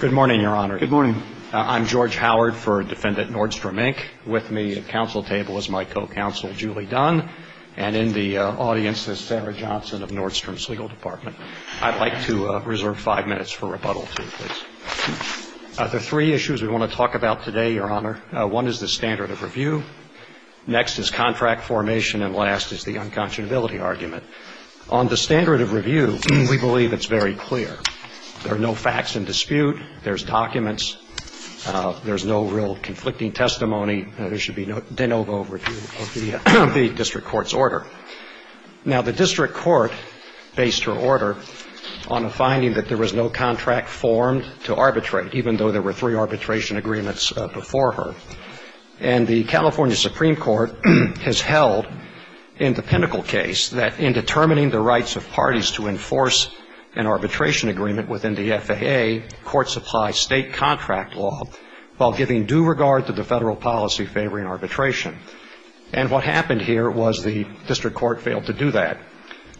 Good morning, Your Honor. Good morning. I'm George Howard for Defendant Nordstrom, Inc. With me at council table is my co-counsel, Julie Dunn, and in the audience is Sarah Johnson of Nordstrom's legal department. I'd like to reserve five minutes for rebuttal, please. There are three issues we want to talk about today, Your Honor. One is the standard of review. Next is contract formation, and last is the unconscionability argument. On the standard of review, we believe it's very clear. There are no facts in dispute. There's documents. There's no real conflicting testimony. There should be de novo review of the district court's order. Now, the district court based her order on a finding that there was no contract formed to arbitrate, even though there were three arbitration agreements before her. And the California Supreme Court has held in the Pinnacle case that in determining the rights of parties to enforce an arbitration agreement within the FAA, courts apply state contract law while giving due regard to the federal policy favoring arbitration. And what happened here was the district court failed to do that.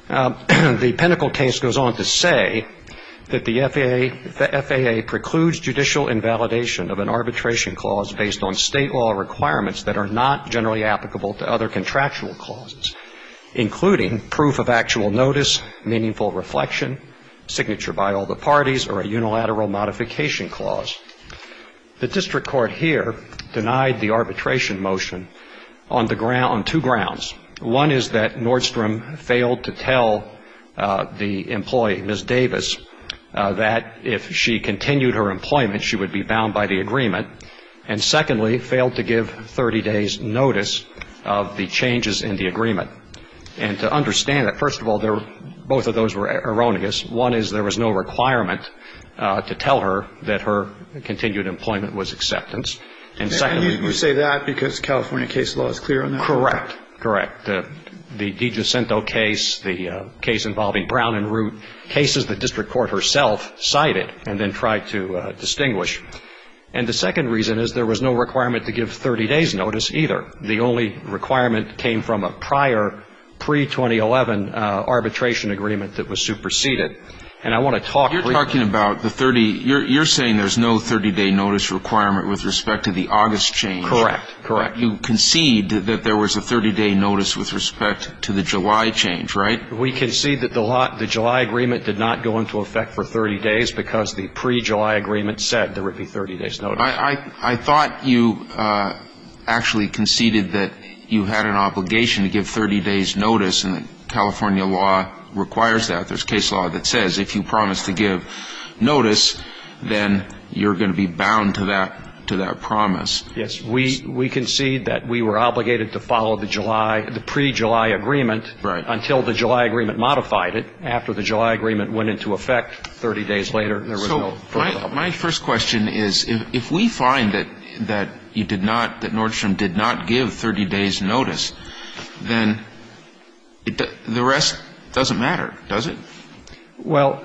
The Pinnacle case goes on to say that the FAA precludes judicial invalidation of an arbitration clause based on state law requirements that are not generally applicable to other contractual clauses, including proof of actual notice, meaningful reflection, signature by all the parties, or a unilateral modification clause. The district court here denied the arbitration motion on two grounds. One is that Nordstrom failed to tell the employee, Ms. Davis, that if she continued her employment, she would be bound by the agreement, and secondly, failed to give 30 days' notice of the changes in the agreement. And to understand that, first of all, both of those were erroneous. One is there was no requirement to tell her that her continued employment was acceptance. And secondly… And you say that because California case law is clear on that? Correct. Correct. The DiGiacinto case, the case involving Brown and Root, cases the district court herself cited and then tried to distinguish. And the second reason is there was no requirement to give 30 days' notice either. The only requirement came from a prior pre-2011 arbitration agreement that was superseded. And I want to talk… You're talking about the 30… you're saying there's no 30-day notice requirement with respect to the August change. Correct. Correct. You concede that there was a 30-day notice with respect to the July change, right? We concede that the July agreement did not go into effect for 30 days because the pre-July agreement said there would be 30 days' notice. I thought you actually conceded that you had an obligation to give 30 days' notice and that California law requires that. There's case law that says if you promise to give notice, then you're going to be bound to that promise. Yes. We concede that we were obligated to follow the July, the pre-July agreement… Right.… until the July agreement modified it. After the July agreement went into effect 30 days later, there was no… So my first question is if we find that you did not, that Nordstrom did not give 30 days' notice, then the rest doesn't matter, does it? Well,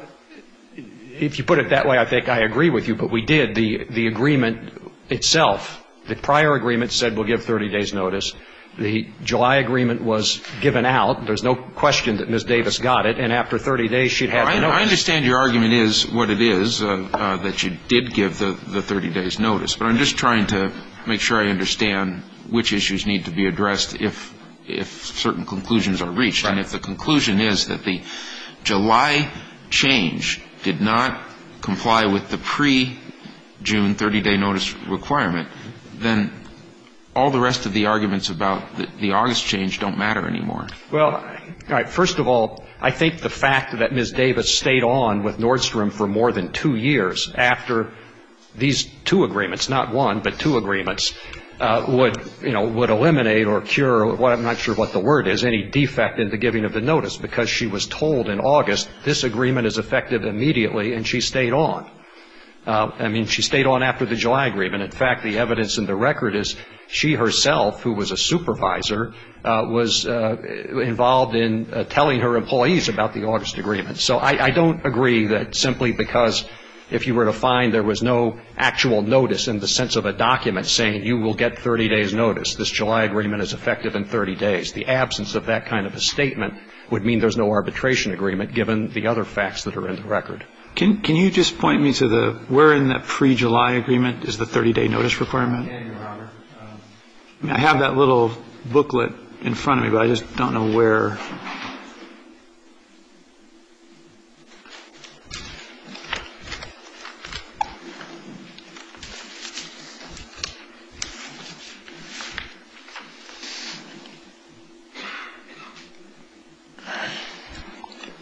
if you put it that way, I think I agree with you. But we did. The agreement itself, the prior agreement said we'll give 30 days' notice. The July agreement was given out. There's no question that Ms. Davis got it. And after 30 days, she'd have the notice. I understand your argument is what it is, that you did give the 30 days' notice. But I'm just trying to make sure I understand which issues need to be addressed if certain conclusions are reached. Right. And if the conclusion is that the July change did not comply with the pre-June 30-day notice requirement, then all the rest of the arguments about the August change don't matter anymore. Well, first of all, I think the fact that Ms. Davis stayed on with Nordstrom for more than two years after these two agreements, not one, but two agreements, would eliminate or cure, I'm not sure what the word is, any defect in the giving of the notice. Because she was told in August, this agreement is effective immediately, and she stayed on. I mean, she stayed on after the July agreement. In fact, the evidence in the record is she herself, who was a supervisor, was involved in telling her employees about the August agreement. So I don't agree that simply because if you were to find there was no actual notice in the sense of a document saying you will get 30 days' notice, this July agreement is effective in 30 days, the absence of that kind of a statement would mean there's no arbitration agreement, given the other facts that are in the record. Can you just point me to where in that pre-July agreement is the 30-day notice requirement? I have that little booklet in front of me, but I just don't know where.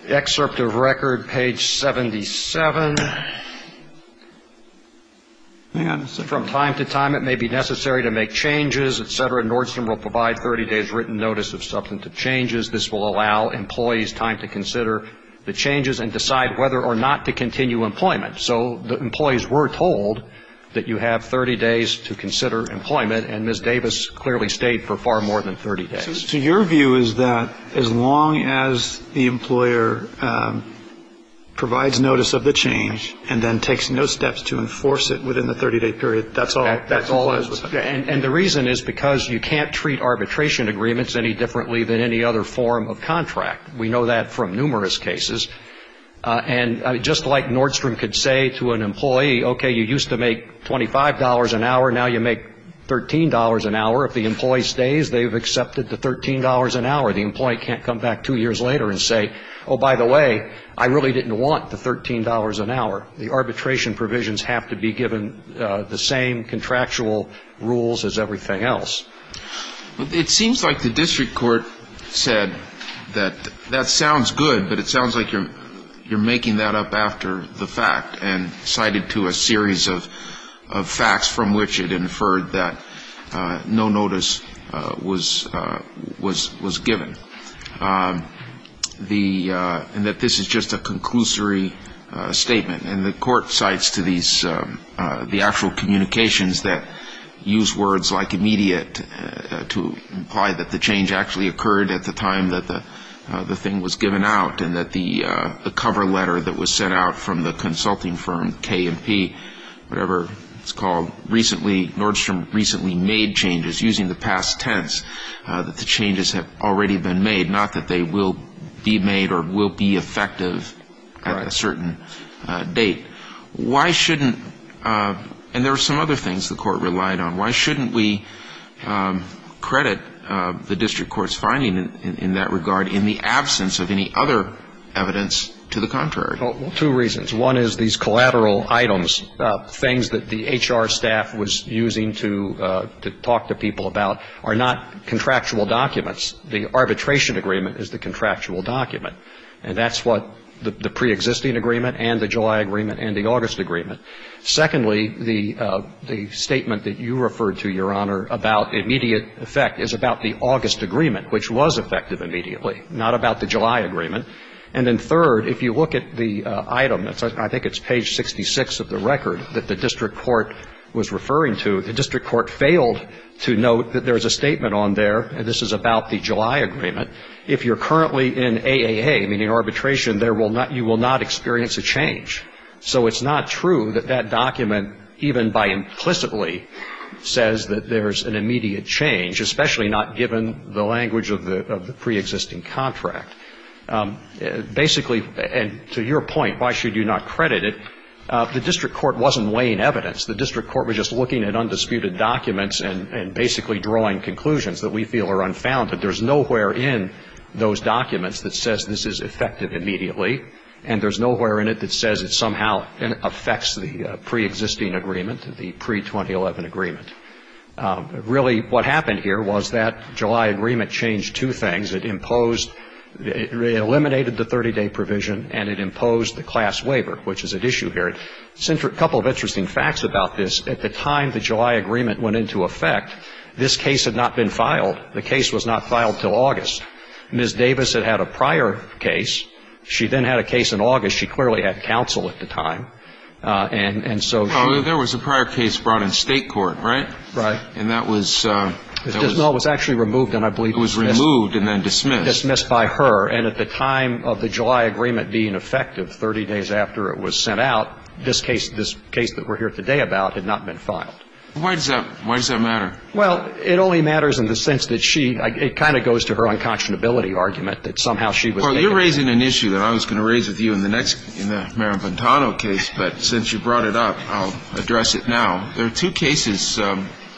Excerpt of record, page 77. From time to time, it may be necessary to make changes, et cetera. Nordstrom will provide 30 days' written notice of substantive changes. This will allow employees time to consider the changes and decide whether or not to continue employment. So the employees were told that you have 30 days to consider employment, and Ms. Davis clearly stayed for far more than 30 days. So your view is that as long as the employer provides notice of the change and then takes no steps to enforce it within the 30-day period, that's all? And the reason is because you can't treat arbitration agreements any differently than any other form of contract. We know that from numerous cases. And just like Nordstrom could say to an employee, okay, you used to make $25 an hour, now you make $13 an hour, if the employee stays, they've accepted the $13 an hour. The employee can't come back two years later and say, oh, by the way, I really didn't want the $13 an hour. The arbitration provisions have to be given the same contractual rules as everything else. It seems like the district court said that that sounds good, but it sounds like you're making that up after the fact and cited to a series of facts from which it inferred that no notice was given. And that this is just a conclusory statement. And the court cites to these the actual communications that use words like immediate to imply that the change actually occurred at the time that the thing was given out and that the cover letter that was sent out from the consulting firm K&P, whatever it's called, Nordstrom recently made changes using the past tense, that the changes have already been made, not that they will be made or will be effective at a certain date. Why shouldn't, and there are some other things the court relied on, why shouldn't we credit the district court's finding in that regard in the absence of any other evidence to the contrary? Well, two reasons. One is these collateral items, things that the HR staff was using to talk to people about, are not contractual documents. The arbitration agreement is the contractual document. And that's what the preexisting agreement and the July agreement and the August agreement. Secondly, the statement that you referred to, Your Honor, about immediate effect, is about the August agreement, which was effective immediately, not about the July agreement. And then third, if you look at the item, I think it's page 66 of the record that the district court was referring to, the district court failed to note that there's a statement on there, and this is about the July agreement, if you're currently in AAA, meaning arbitration, you will not experience a change. So it's not true that that document even by implicitly says that there's an immediate change, especially not given the language of the preexisting contract. Basically, and to your point, why should you not credit it, the district court wasn't weighing evidence. The district court was just looking at undisputed documents and basically drawing conclusions that we feel are unfounded. There's nowhere in those documents that says this is effective immediately, and there's nowhere in it that says it somehow affects the preexisting agreement, the pre-2011 agreement. Really what happened here was that July agreement changed two things. It imposed, it eliminated the 30-day provision, and it imposed the class waiver, which is at issue here. A couple of interesting facts about this. At the time the July agreement went into effect, this case had not been filed. The case was not filed until August. Ms. Davis had had a prior case. She then had a case in August. She clearly had counsel at the time. And so she ---- Well, there was a prior case brought in state court, right? Right. And that was ---- It was actually removed, and I believe it was missed. Removed and then dismissed. Dismissed by her. And at the time of the July agreement being effective, 30 days after it was sent out, this case that we're here today about had not been filed. Why does that matter? Well, it only matters in the sense that she ---- It kind of goes to her unconscionability argument that somehow she was ---- Well, you're raising an issue that I was going to raise with you in the next ---- in the Marin Bantano case, but since you brought it up, I'll address it now. There are two cases,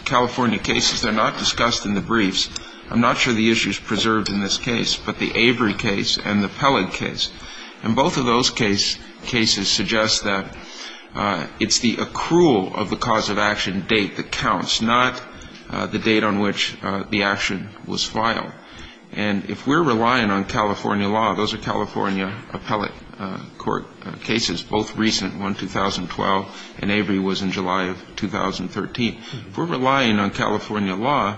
California cases, that are not discussed in the briefs. I'm not sure the issue is preserved in this case, but the Avery case and the Pellet case. And both of those cases suggest that it's the accrual of the cause of action date that counts, not the date on which the action was filed. And if we're relying on California law, those are California appellate court cases, both recent, one 2012, and Avery was in July of 2013. If we're relying on California law,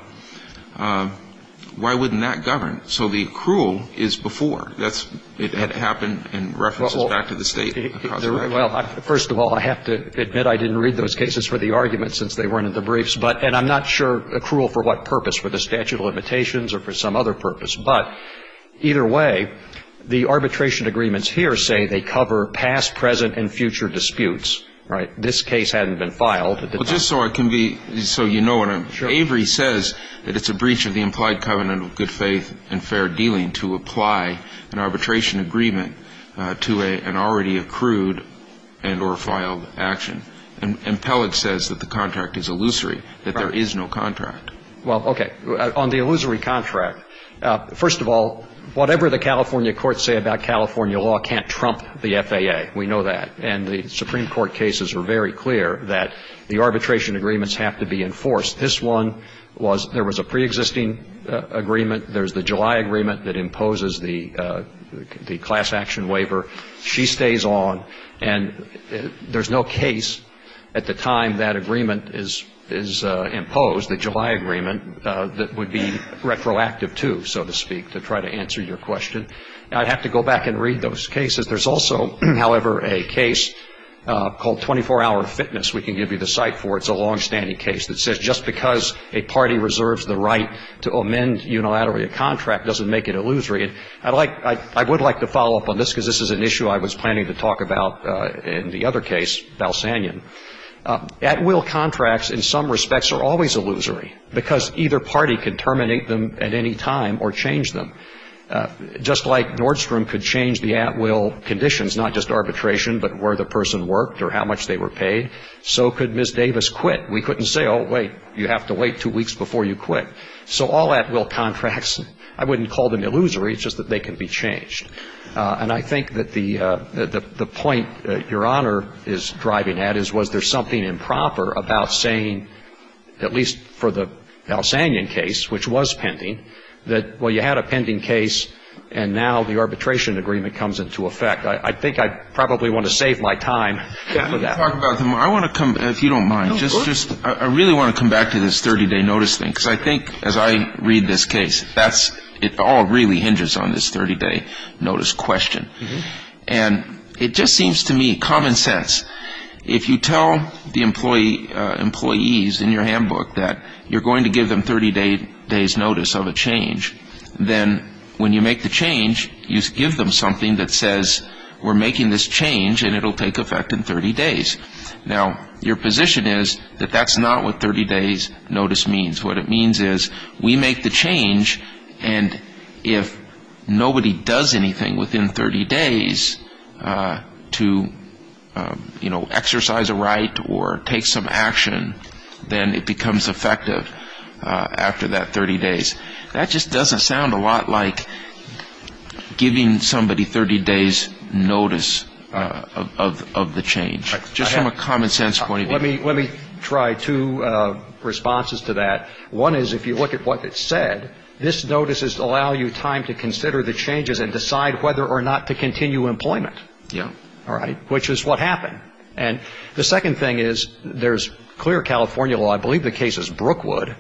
why wouldn't that govern? So the accrual is before. It had happened in references back to the State. Well, first of all, I have to admit I didn't read those cases for the argument since they weren't in the briefs. And I'm not sure accrual for what purpose, for the statute of limitations or for some other purpose. But either way, the arbitration agreements here say they cover past, present, and future disputes, right? This case hadn't been filed. Well, just so I can be so you know, Avery says that it's a breach of the implied covenant of good faith and fair dealing to apply an arbitration agreement to an already accrued and or filed action. And Pellet says that the contract is illusory, that there is no contract. Well, okay. On the illusory contract, first of all, whatever the California courts say about California law can't trump the FAA. We know that. And the Supreme Court cases were very clear that the arbitration agreements have to be enforced. This one was, there was a preexisting agreement. There's the July agreement that imposes the class action waiver. She stays on. And there's no case at the time that agreement is imposed, the July agreement, that would be retroactive, too, so to speak, to try to answer your question. I'd have to go back and read those cases. There's also, however, a case called 24-Hour Fitness we can give you the cite for. It's a longstanding case that says just because a party reserves the right to amend unilaterally a contract doesn't make it illusory. And I'd like, I would like to follow up on this because this is an issue I was planning to talk about in the other case, Balsanian. At-will contracts in some respects are always illusory because either party can terminate them at any time or change them. Just like Nordstrom could change the at-will conditions, not just arbitration, but where the person worked or how much they were paid, so could Ms. Davis quit. We couldn't say, oh, wait, you have to wait two weeks before you quit. So all at-will contracts, I wouldn't call them illusory. It's just that they can be changed. And I think that the point that Your Honor is driving at is was there something improper about saying, at least for the Balsanian case, which was pending, that, well, you had a pending case and now the arbitration agreement comes into effect. I think I probably want to save my time for that. Let me talk about it. I want to come, if you don't mind, just, I really want to come back to this 30-day notice thing because I think as I read this case, that's, it all really hinges on this 30-day notice question. And it just seems to me common sense. If you tell the employees in your handbook that you're going to give them 30 days notice of a change, then when you make the change, you give them something that says we're making this change and it will take effect in 30 days. Now, your position is that that's not what 30 days notice means. What it means is we make the change and if nobody does anything within 30 days to, you know, exercise a right or take some action, then it becomes effective after that 30 days. That just doesn't sound a lot like giving somebody 30 days notice of the change. Just from a common sense point of view. Let me try two responses to that. One is if you look at what it said, this notice is to allow you time to consider the changes and decide whether or not to continue employment. Yeah. All right, which is what happened. And the second thing is there's clear California law, I believe the case is Brookwood,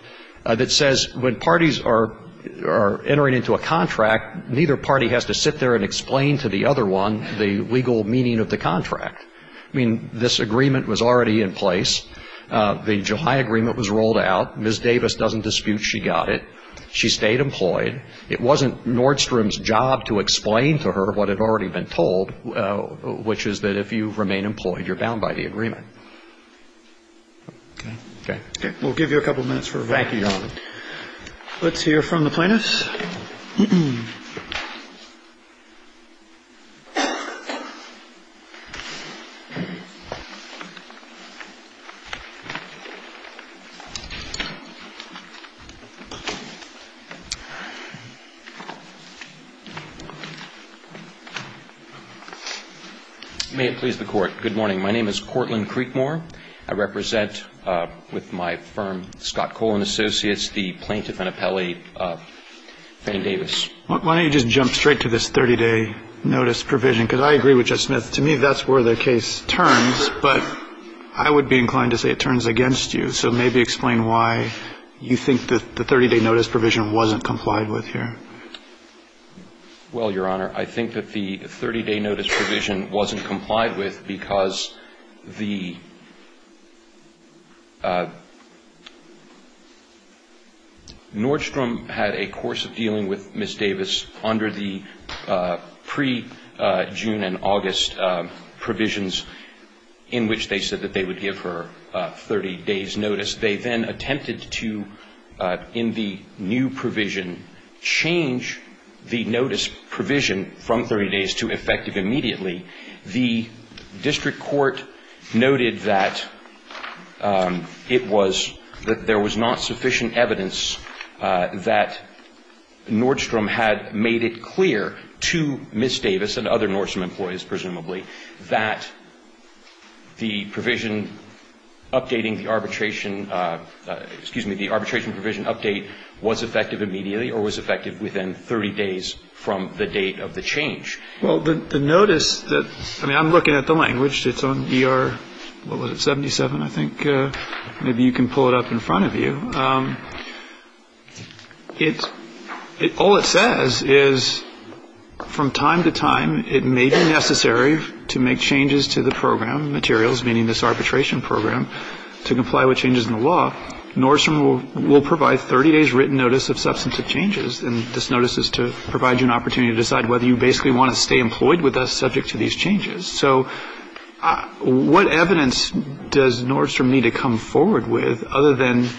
that says when parties are entering into a contract, neither party has to sit there and explain to the other one the legal meaning of the contract. I mean, this agreement was already in place. The July agreement was rolled out. Ms. Davis doesn't dispute she got it. She stayed employed. It wasn't Nordstrom's job to explain to her what had already been told, which is that if you remain employed, you're bound by the agreement. Okay. Okay. We'll give you a couple of minutes for review. Thank you, Your Honor. Let's hear from the plaintiffs. May it please the Court. Good morning. My name is Cortland Creekmore. I represent with my firm, Scott Cole and Associates, the plaintiff and appellee, Fann Davis. Why don't you just jump straight to this 30-day notice provision? Because I agree with Judge Smith. To me, that's where the case turns. But I would be inclined to say it turns against you. So maybe explain why you think the 30-day notice provision wasn't complied with here. Well, Your Honor, I think that the 30-day notice provision wasn't complied with because the ñ Nordstrom had a course of dealing with Ms. Davis under the pre-June and August provisions in which they said that they would give her 30 days' notice. They then attempted to, in the new provision, change the notice provision from 30 days to effective immediately. The district court noted that it was ñ that there was not sufficient evidence that Nordstrom had made it clear to Ms. Davis and other Nordstrom employees, presumably, that the provision updating the arbitration ñ excuse me, the arbitration provision update was effective immediately or was effective within 30 days from the date of the change. Well, the notice that ñ I mean, I'm looking at the language. It's on ER ñ what was it, 77, I think. Maybe you can pull it up in front of you. It ñ all it says is from time to time it may be necessary to make changes to the program materials, meaning this arbitration program, to comply with changes in the law. But Nordstrom will provide 30 days' written notice of substantive changes. And this notice is to provide you an opportunity to decide whether you basically want to stay employed with us subject to these changes. So what evidence does Nordstrom need to come forward with other than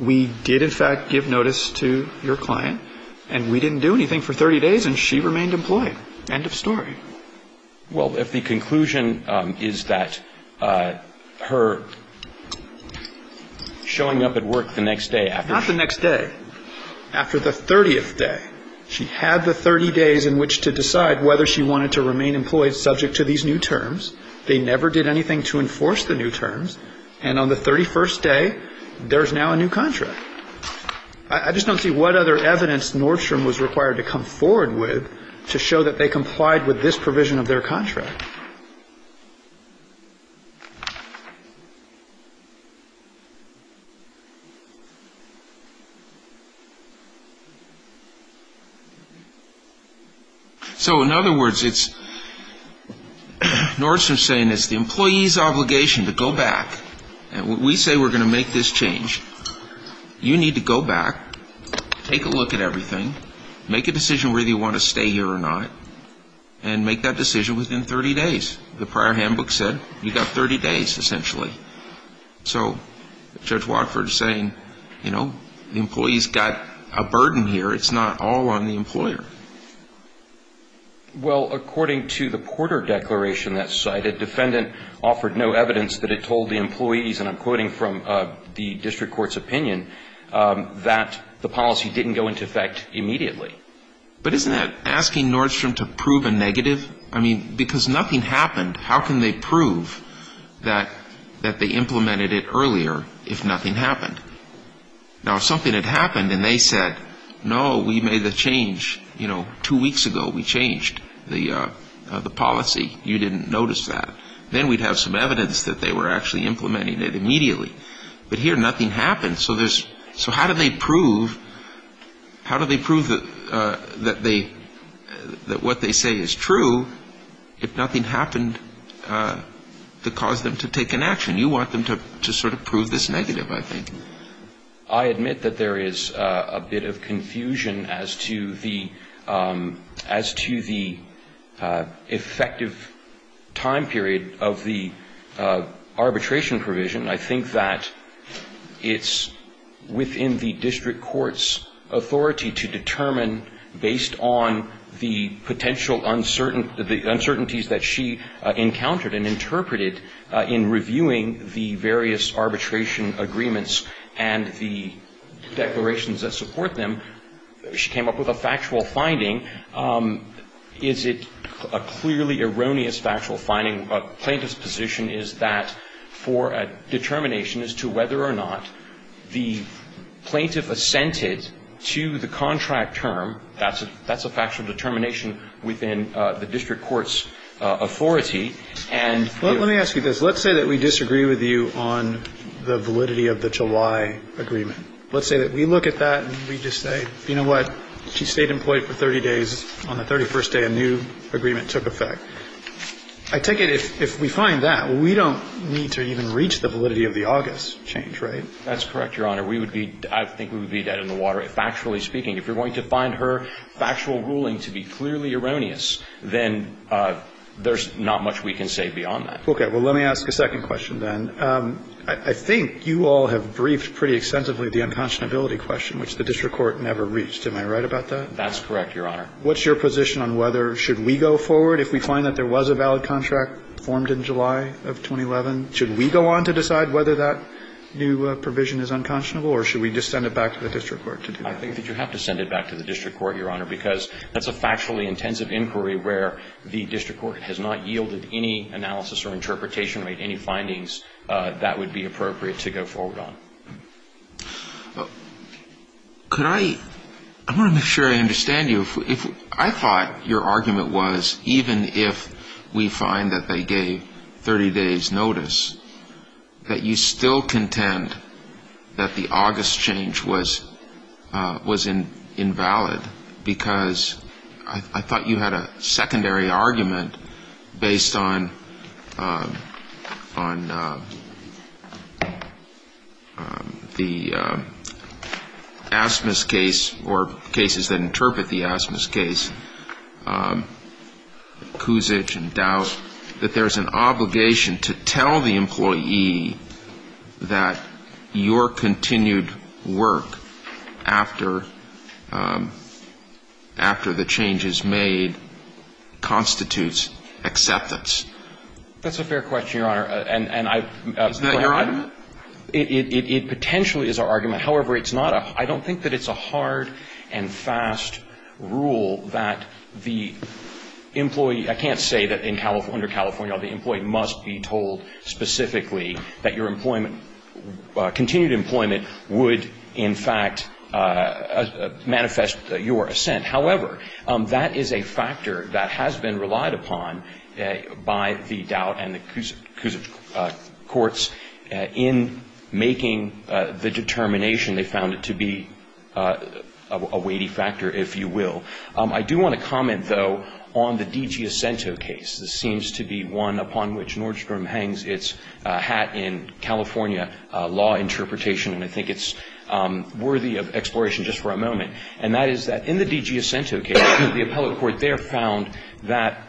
we did, in fact, give notice to your client and we didn't do anything for 30 days and she remained employed? End of story. Well, if the conclusion is that her showing up at work the next day after she ñ Not the next day. After the 30th day. She had the 30 days in which to decide whether she wanted to remain employed subject to these new terms. They never did anything to enforce the new terms. And on the 31st day, there's now a new contract. I just don't see what other evidence Nordstrom was required to come forward with to show that they complied with this provision of their contract. So, in other words, it's ñ Nordstrom's saying it's the employee's obligation to go back. And we say we're going to make this change. You need to go back, take a look at everything, make a decision whether you want to stay here or not, and make that decision within 30 days. The prior handbook said you got 30 days, essentially. So Judge Watford is saying, you know, the employee's got a burden here. It's not all on the employer. Well, according to the Porter Declaration that's cited, defendant offered no evidence that it told the employees, and I'm quoting from the district court's opinion, that the policy didn't go into effect immediately. But isn't that asking Nordstrom to prove a negative? I mean, because nothing happened, how can they prove that they implemented it earlier if nothing happened? Now, if something had happened and they said, no, we made the change, you know, two weeks ago. We changed the policy. You didn't notice that. Then we'd have some evidence that they were actually implementing it immediately. But here, nothing happened. So how do they prove that what they say is true if nothing happened to cause them to take an action? You want them to sort of prove this negative, I think. I admit that there is a bit of confusion as to the effective time period of the arbitration provision. I think that it's within the district court's authority to determine based on the potential uncertain the uncertainties that she encountered and interpreted in reviewing the various arbitration agreements and the declarations that support them. She came up with a factual finding. Is it a clearly erroneous factual finding? The plaintiff's position is that for a determination as to whether or not the plaintiff assented to the contract term, that's a factual determination within the district court's authority. Let me ask you this. Let's say that we disagree with you on the validity of the July agreement. Let's say that we look at that and we just say, you know what, she stayed employed for 30 days. On the 31st day, a new agreement took effect. I take it if we find that, we don't need to even reach the validity of the August change, right? That's correct, Your Honor. We would be – I think we would be dead in the water. Factually speaking, if you're going to find her factual ruling to be clearly erroneous, then there's not much we can say beyond that. Okay. Well, let me ask a second question then. I think you all have briefed pretty extensively the unconscionability question, which the district court never reached. Am I right about that? That's correct, Your Honor. What's your position on whether, should we go forward if we find that there was a valid contract formed in July of 2011? Should we go on to decide whether that new provision is unconscionable, or should we just send it back to the district court to do that? I think that you have to send it back to the district court, Your Honor, because that's a factually intensive inquiry where the district court has not yielded any analysis or interpretation or made any findings that would be appropriate to go forward Could I – I want to make sure I understand you. I thought your argument was, even if we find that they gave 30 days' notice, that you still contend that the August change was invalid because I thought you had a the Asmus case or cases that interpret the Asmus case, Cusich and Dow that there's an obligation to tell the employee that your continued work after the change is made constitutes acceptance. That's a fair question, Your Honor. And I – Is that your argument? It potentially is our argument. However, it's not a – I don't think that it's a hard and fast rule that the employee – I can't say that under California law the employee must be told specifically that your employment – continued employment would, in fact, manifest your assent. However, that is a factor that has been relied upon by the Dow and the Cusich courts. In making the determination, they found it to be a weighty factor, if you will. I do want to comment, though, on the DiGiassento case. This seems to be one upon which Nordstrom hangs its hat in California law interpretation, and I think it's worthy of exploration just for a moment. And that is that in the DiGiassento case, the appellate court there found that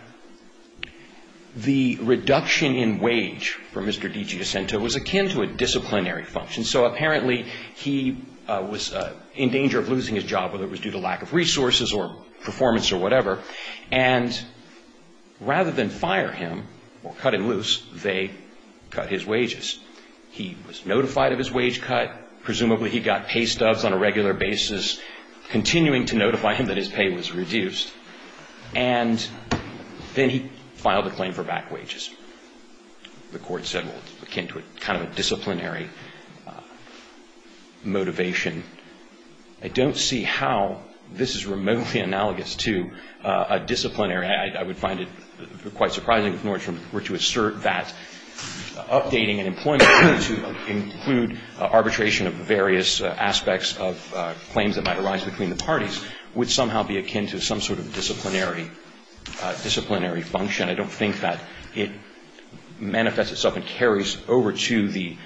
the reduction in wage for Mr. DiGiassento was akin to a disciplinary function. So apparently he was in danger of losing his job, whether it was due to lack of resources or performance or whatever, and rather than fire him or cut him loose, they cut his wages. He was notified of his wage cut. Presumably he got pay stubs on a regular basis, continuing to notify him that his pay was reduced. And then he filed a claim for back wages. The court said, well, it's akin to a kind of a disciplinary motivation. I don't see how this is remotely analogous to a disciplinary. I would find it quite surprising if Nordstrom were to assert that updating an employment to include arbitration of various aspects of claims that might arise between the parties would somehow be akin to some sort of disciplinary, disciplinary function. I don't think that it manifests itself and carries over to the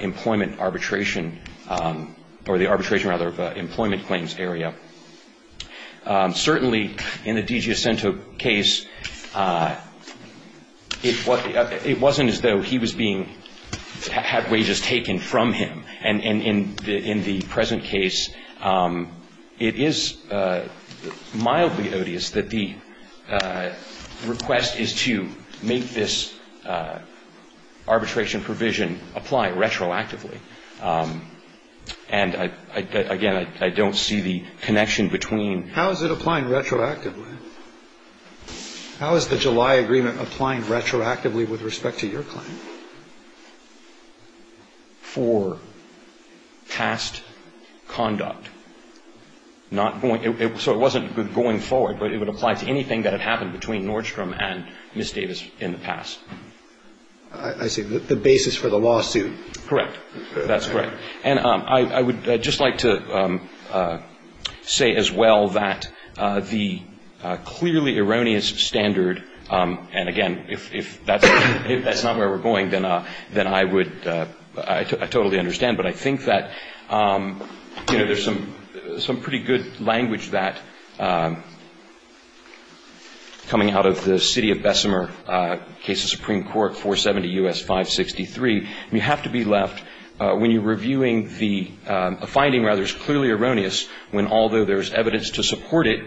employment arbitration or the arbitration, rather, of employment claims area. Certainly in the DiGiassento case, it wasn't as though he was being, had wages taken from him. And in the present case, it is mildly odious that the request is to make this arbitration provision apply retroactively. And, again, I don't see the connection between the two. How is it applying retroactively? How is the July agreement applying retroactively with respect to your claim? For past conduct. Not going, so it wasn't going forward, but it would apply to anything that had happened between Nordstrom and Ms. Davis in the past. I see. The basis for the lawsuit. Correct. That's correct. And I would just like to say as well that the clearly erroneous standard, and, again, if that's not where we're going, then I would, I totally understand. But I think that, you know, there's some pretty good language that, coming out of the the court, the court is not going to be left when you're reviewing the, a finding, rather, is clearly erroneous when, although there's evidence to support it,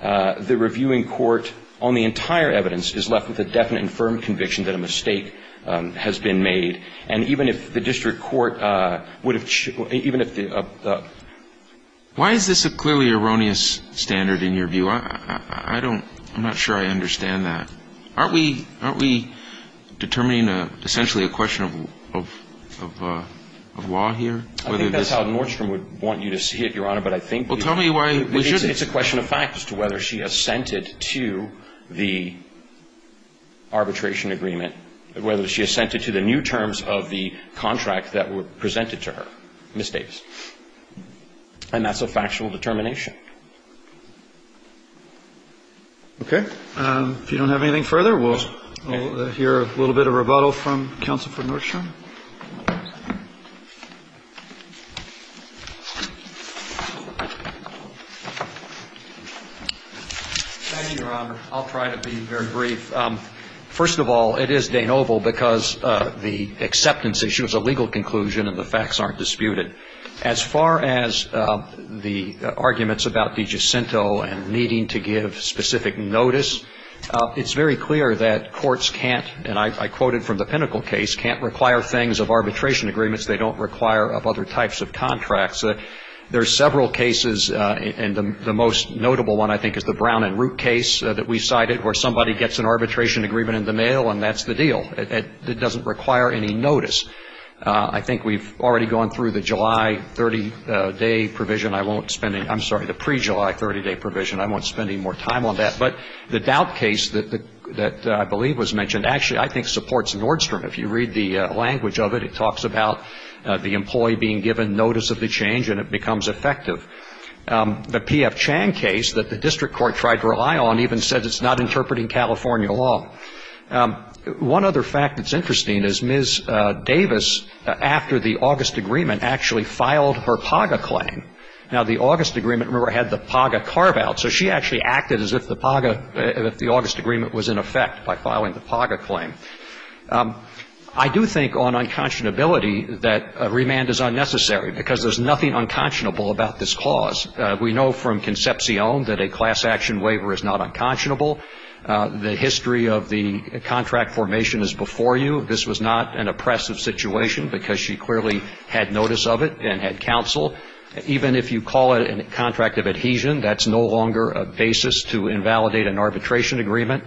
the reviewing court on the entire evidence is left with a definite and firm conviction that a mistake has been made. And even if the district court would have, even if the ---- Why is this a clearly erroneous standard in your view? I don't, I'm not sure I understand that. Aren't we, aren't we determining essentially a question of law here? I think that's how Nordstrom would want you to see it, Your Honor, but I think we should Well, tell me why It's a question of fact as to whether she assented to the arbitration agreement, whether she assented to the new terms of the contract that were presented to her, Ms. Davis. And that's a factual determination. Okay. If you don't have anything further, we'll hear a little bit of rebuttal from counsel for Nordstrom. Thank you, Your Honor. I'll try to be very brief. First of all, it is de novo because the acceptance issue is a legal conclusion and the facts aren't disputed. As far as the arguments about DiGiacinto and needing to give specific notice, it's very clear that courts can't, and I quoted from the Pinnacle case, can't require things of arbitration agreements they don't require of other types of contracts. There are several cases, and the most notable one I think is the Brown and Root case that we cited where somebody gets an arbitration agreement in the mail and that's the deal. It doesn't require any notice. I think we've already gone through the July 30-day provision. I won't spend any more time on that. But the Doubt case that I believe was mentioned actually I think supports Nordstrom. If you read the language of it, it talks about the employee being given notice of the change and it becomes effective. The P.F. Chang case that the district court tried to rely on even said it's not interpreting California law. One other fact that's interesting is Ms. Davis, after the August agreement, actually filed her PAGA claim. Now, the August agreement, remember, had the PAGA carve-out. So she actually acted as if the PAGA, if the August agreement was in effect by filing the PAGA claim. I do think on unconscionability that remand is unnecessary because there's nothing unconscionable about this clause. We know from Concepcion that a class action waiver is not unconscionable. The history of the contract formation is before you. This was not an oppressive situation because she clearly had notice of it and had counsel. Even if you call it a contract of adhesion, that's no longer a basis to invalidate an arbitration agreement.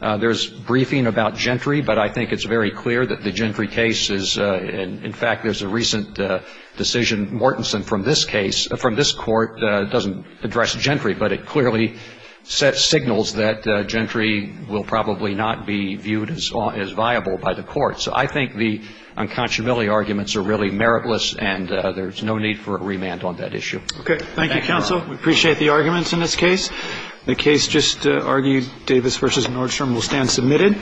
There's briefing about gentry, but I think it's very clear that the gentry case is, in fact, there's a recent decision, Mortenson, from this case, from this court, doesn't address gentry, but it clearly sets signals that gentry will probably not be viewed as viable by the court. So I think the unconscionability arguments are really meritless and there's no need for a remand on that issue. Okay. Thank you, counsel. We appreciate the arguments in this case. The case just argued, Davis v. Nordstrom, will stand submitted.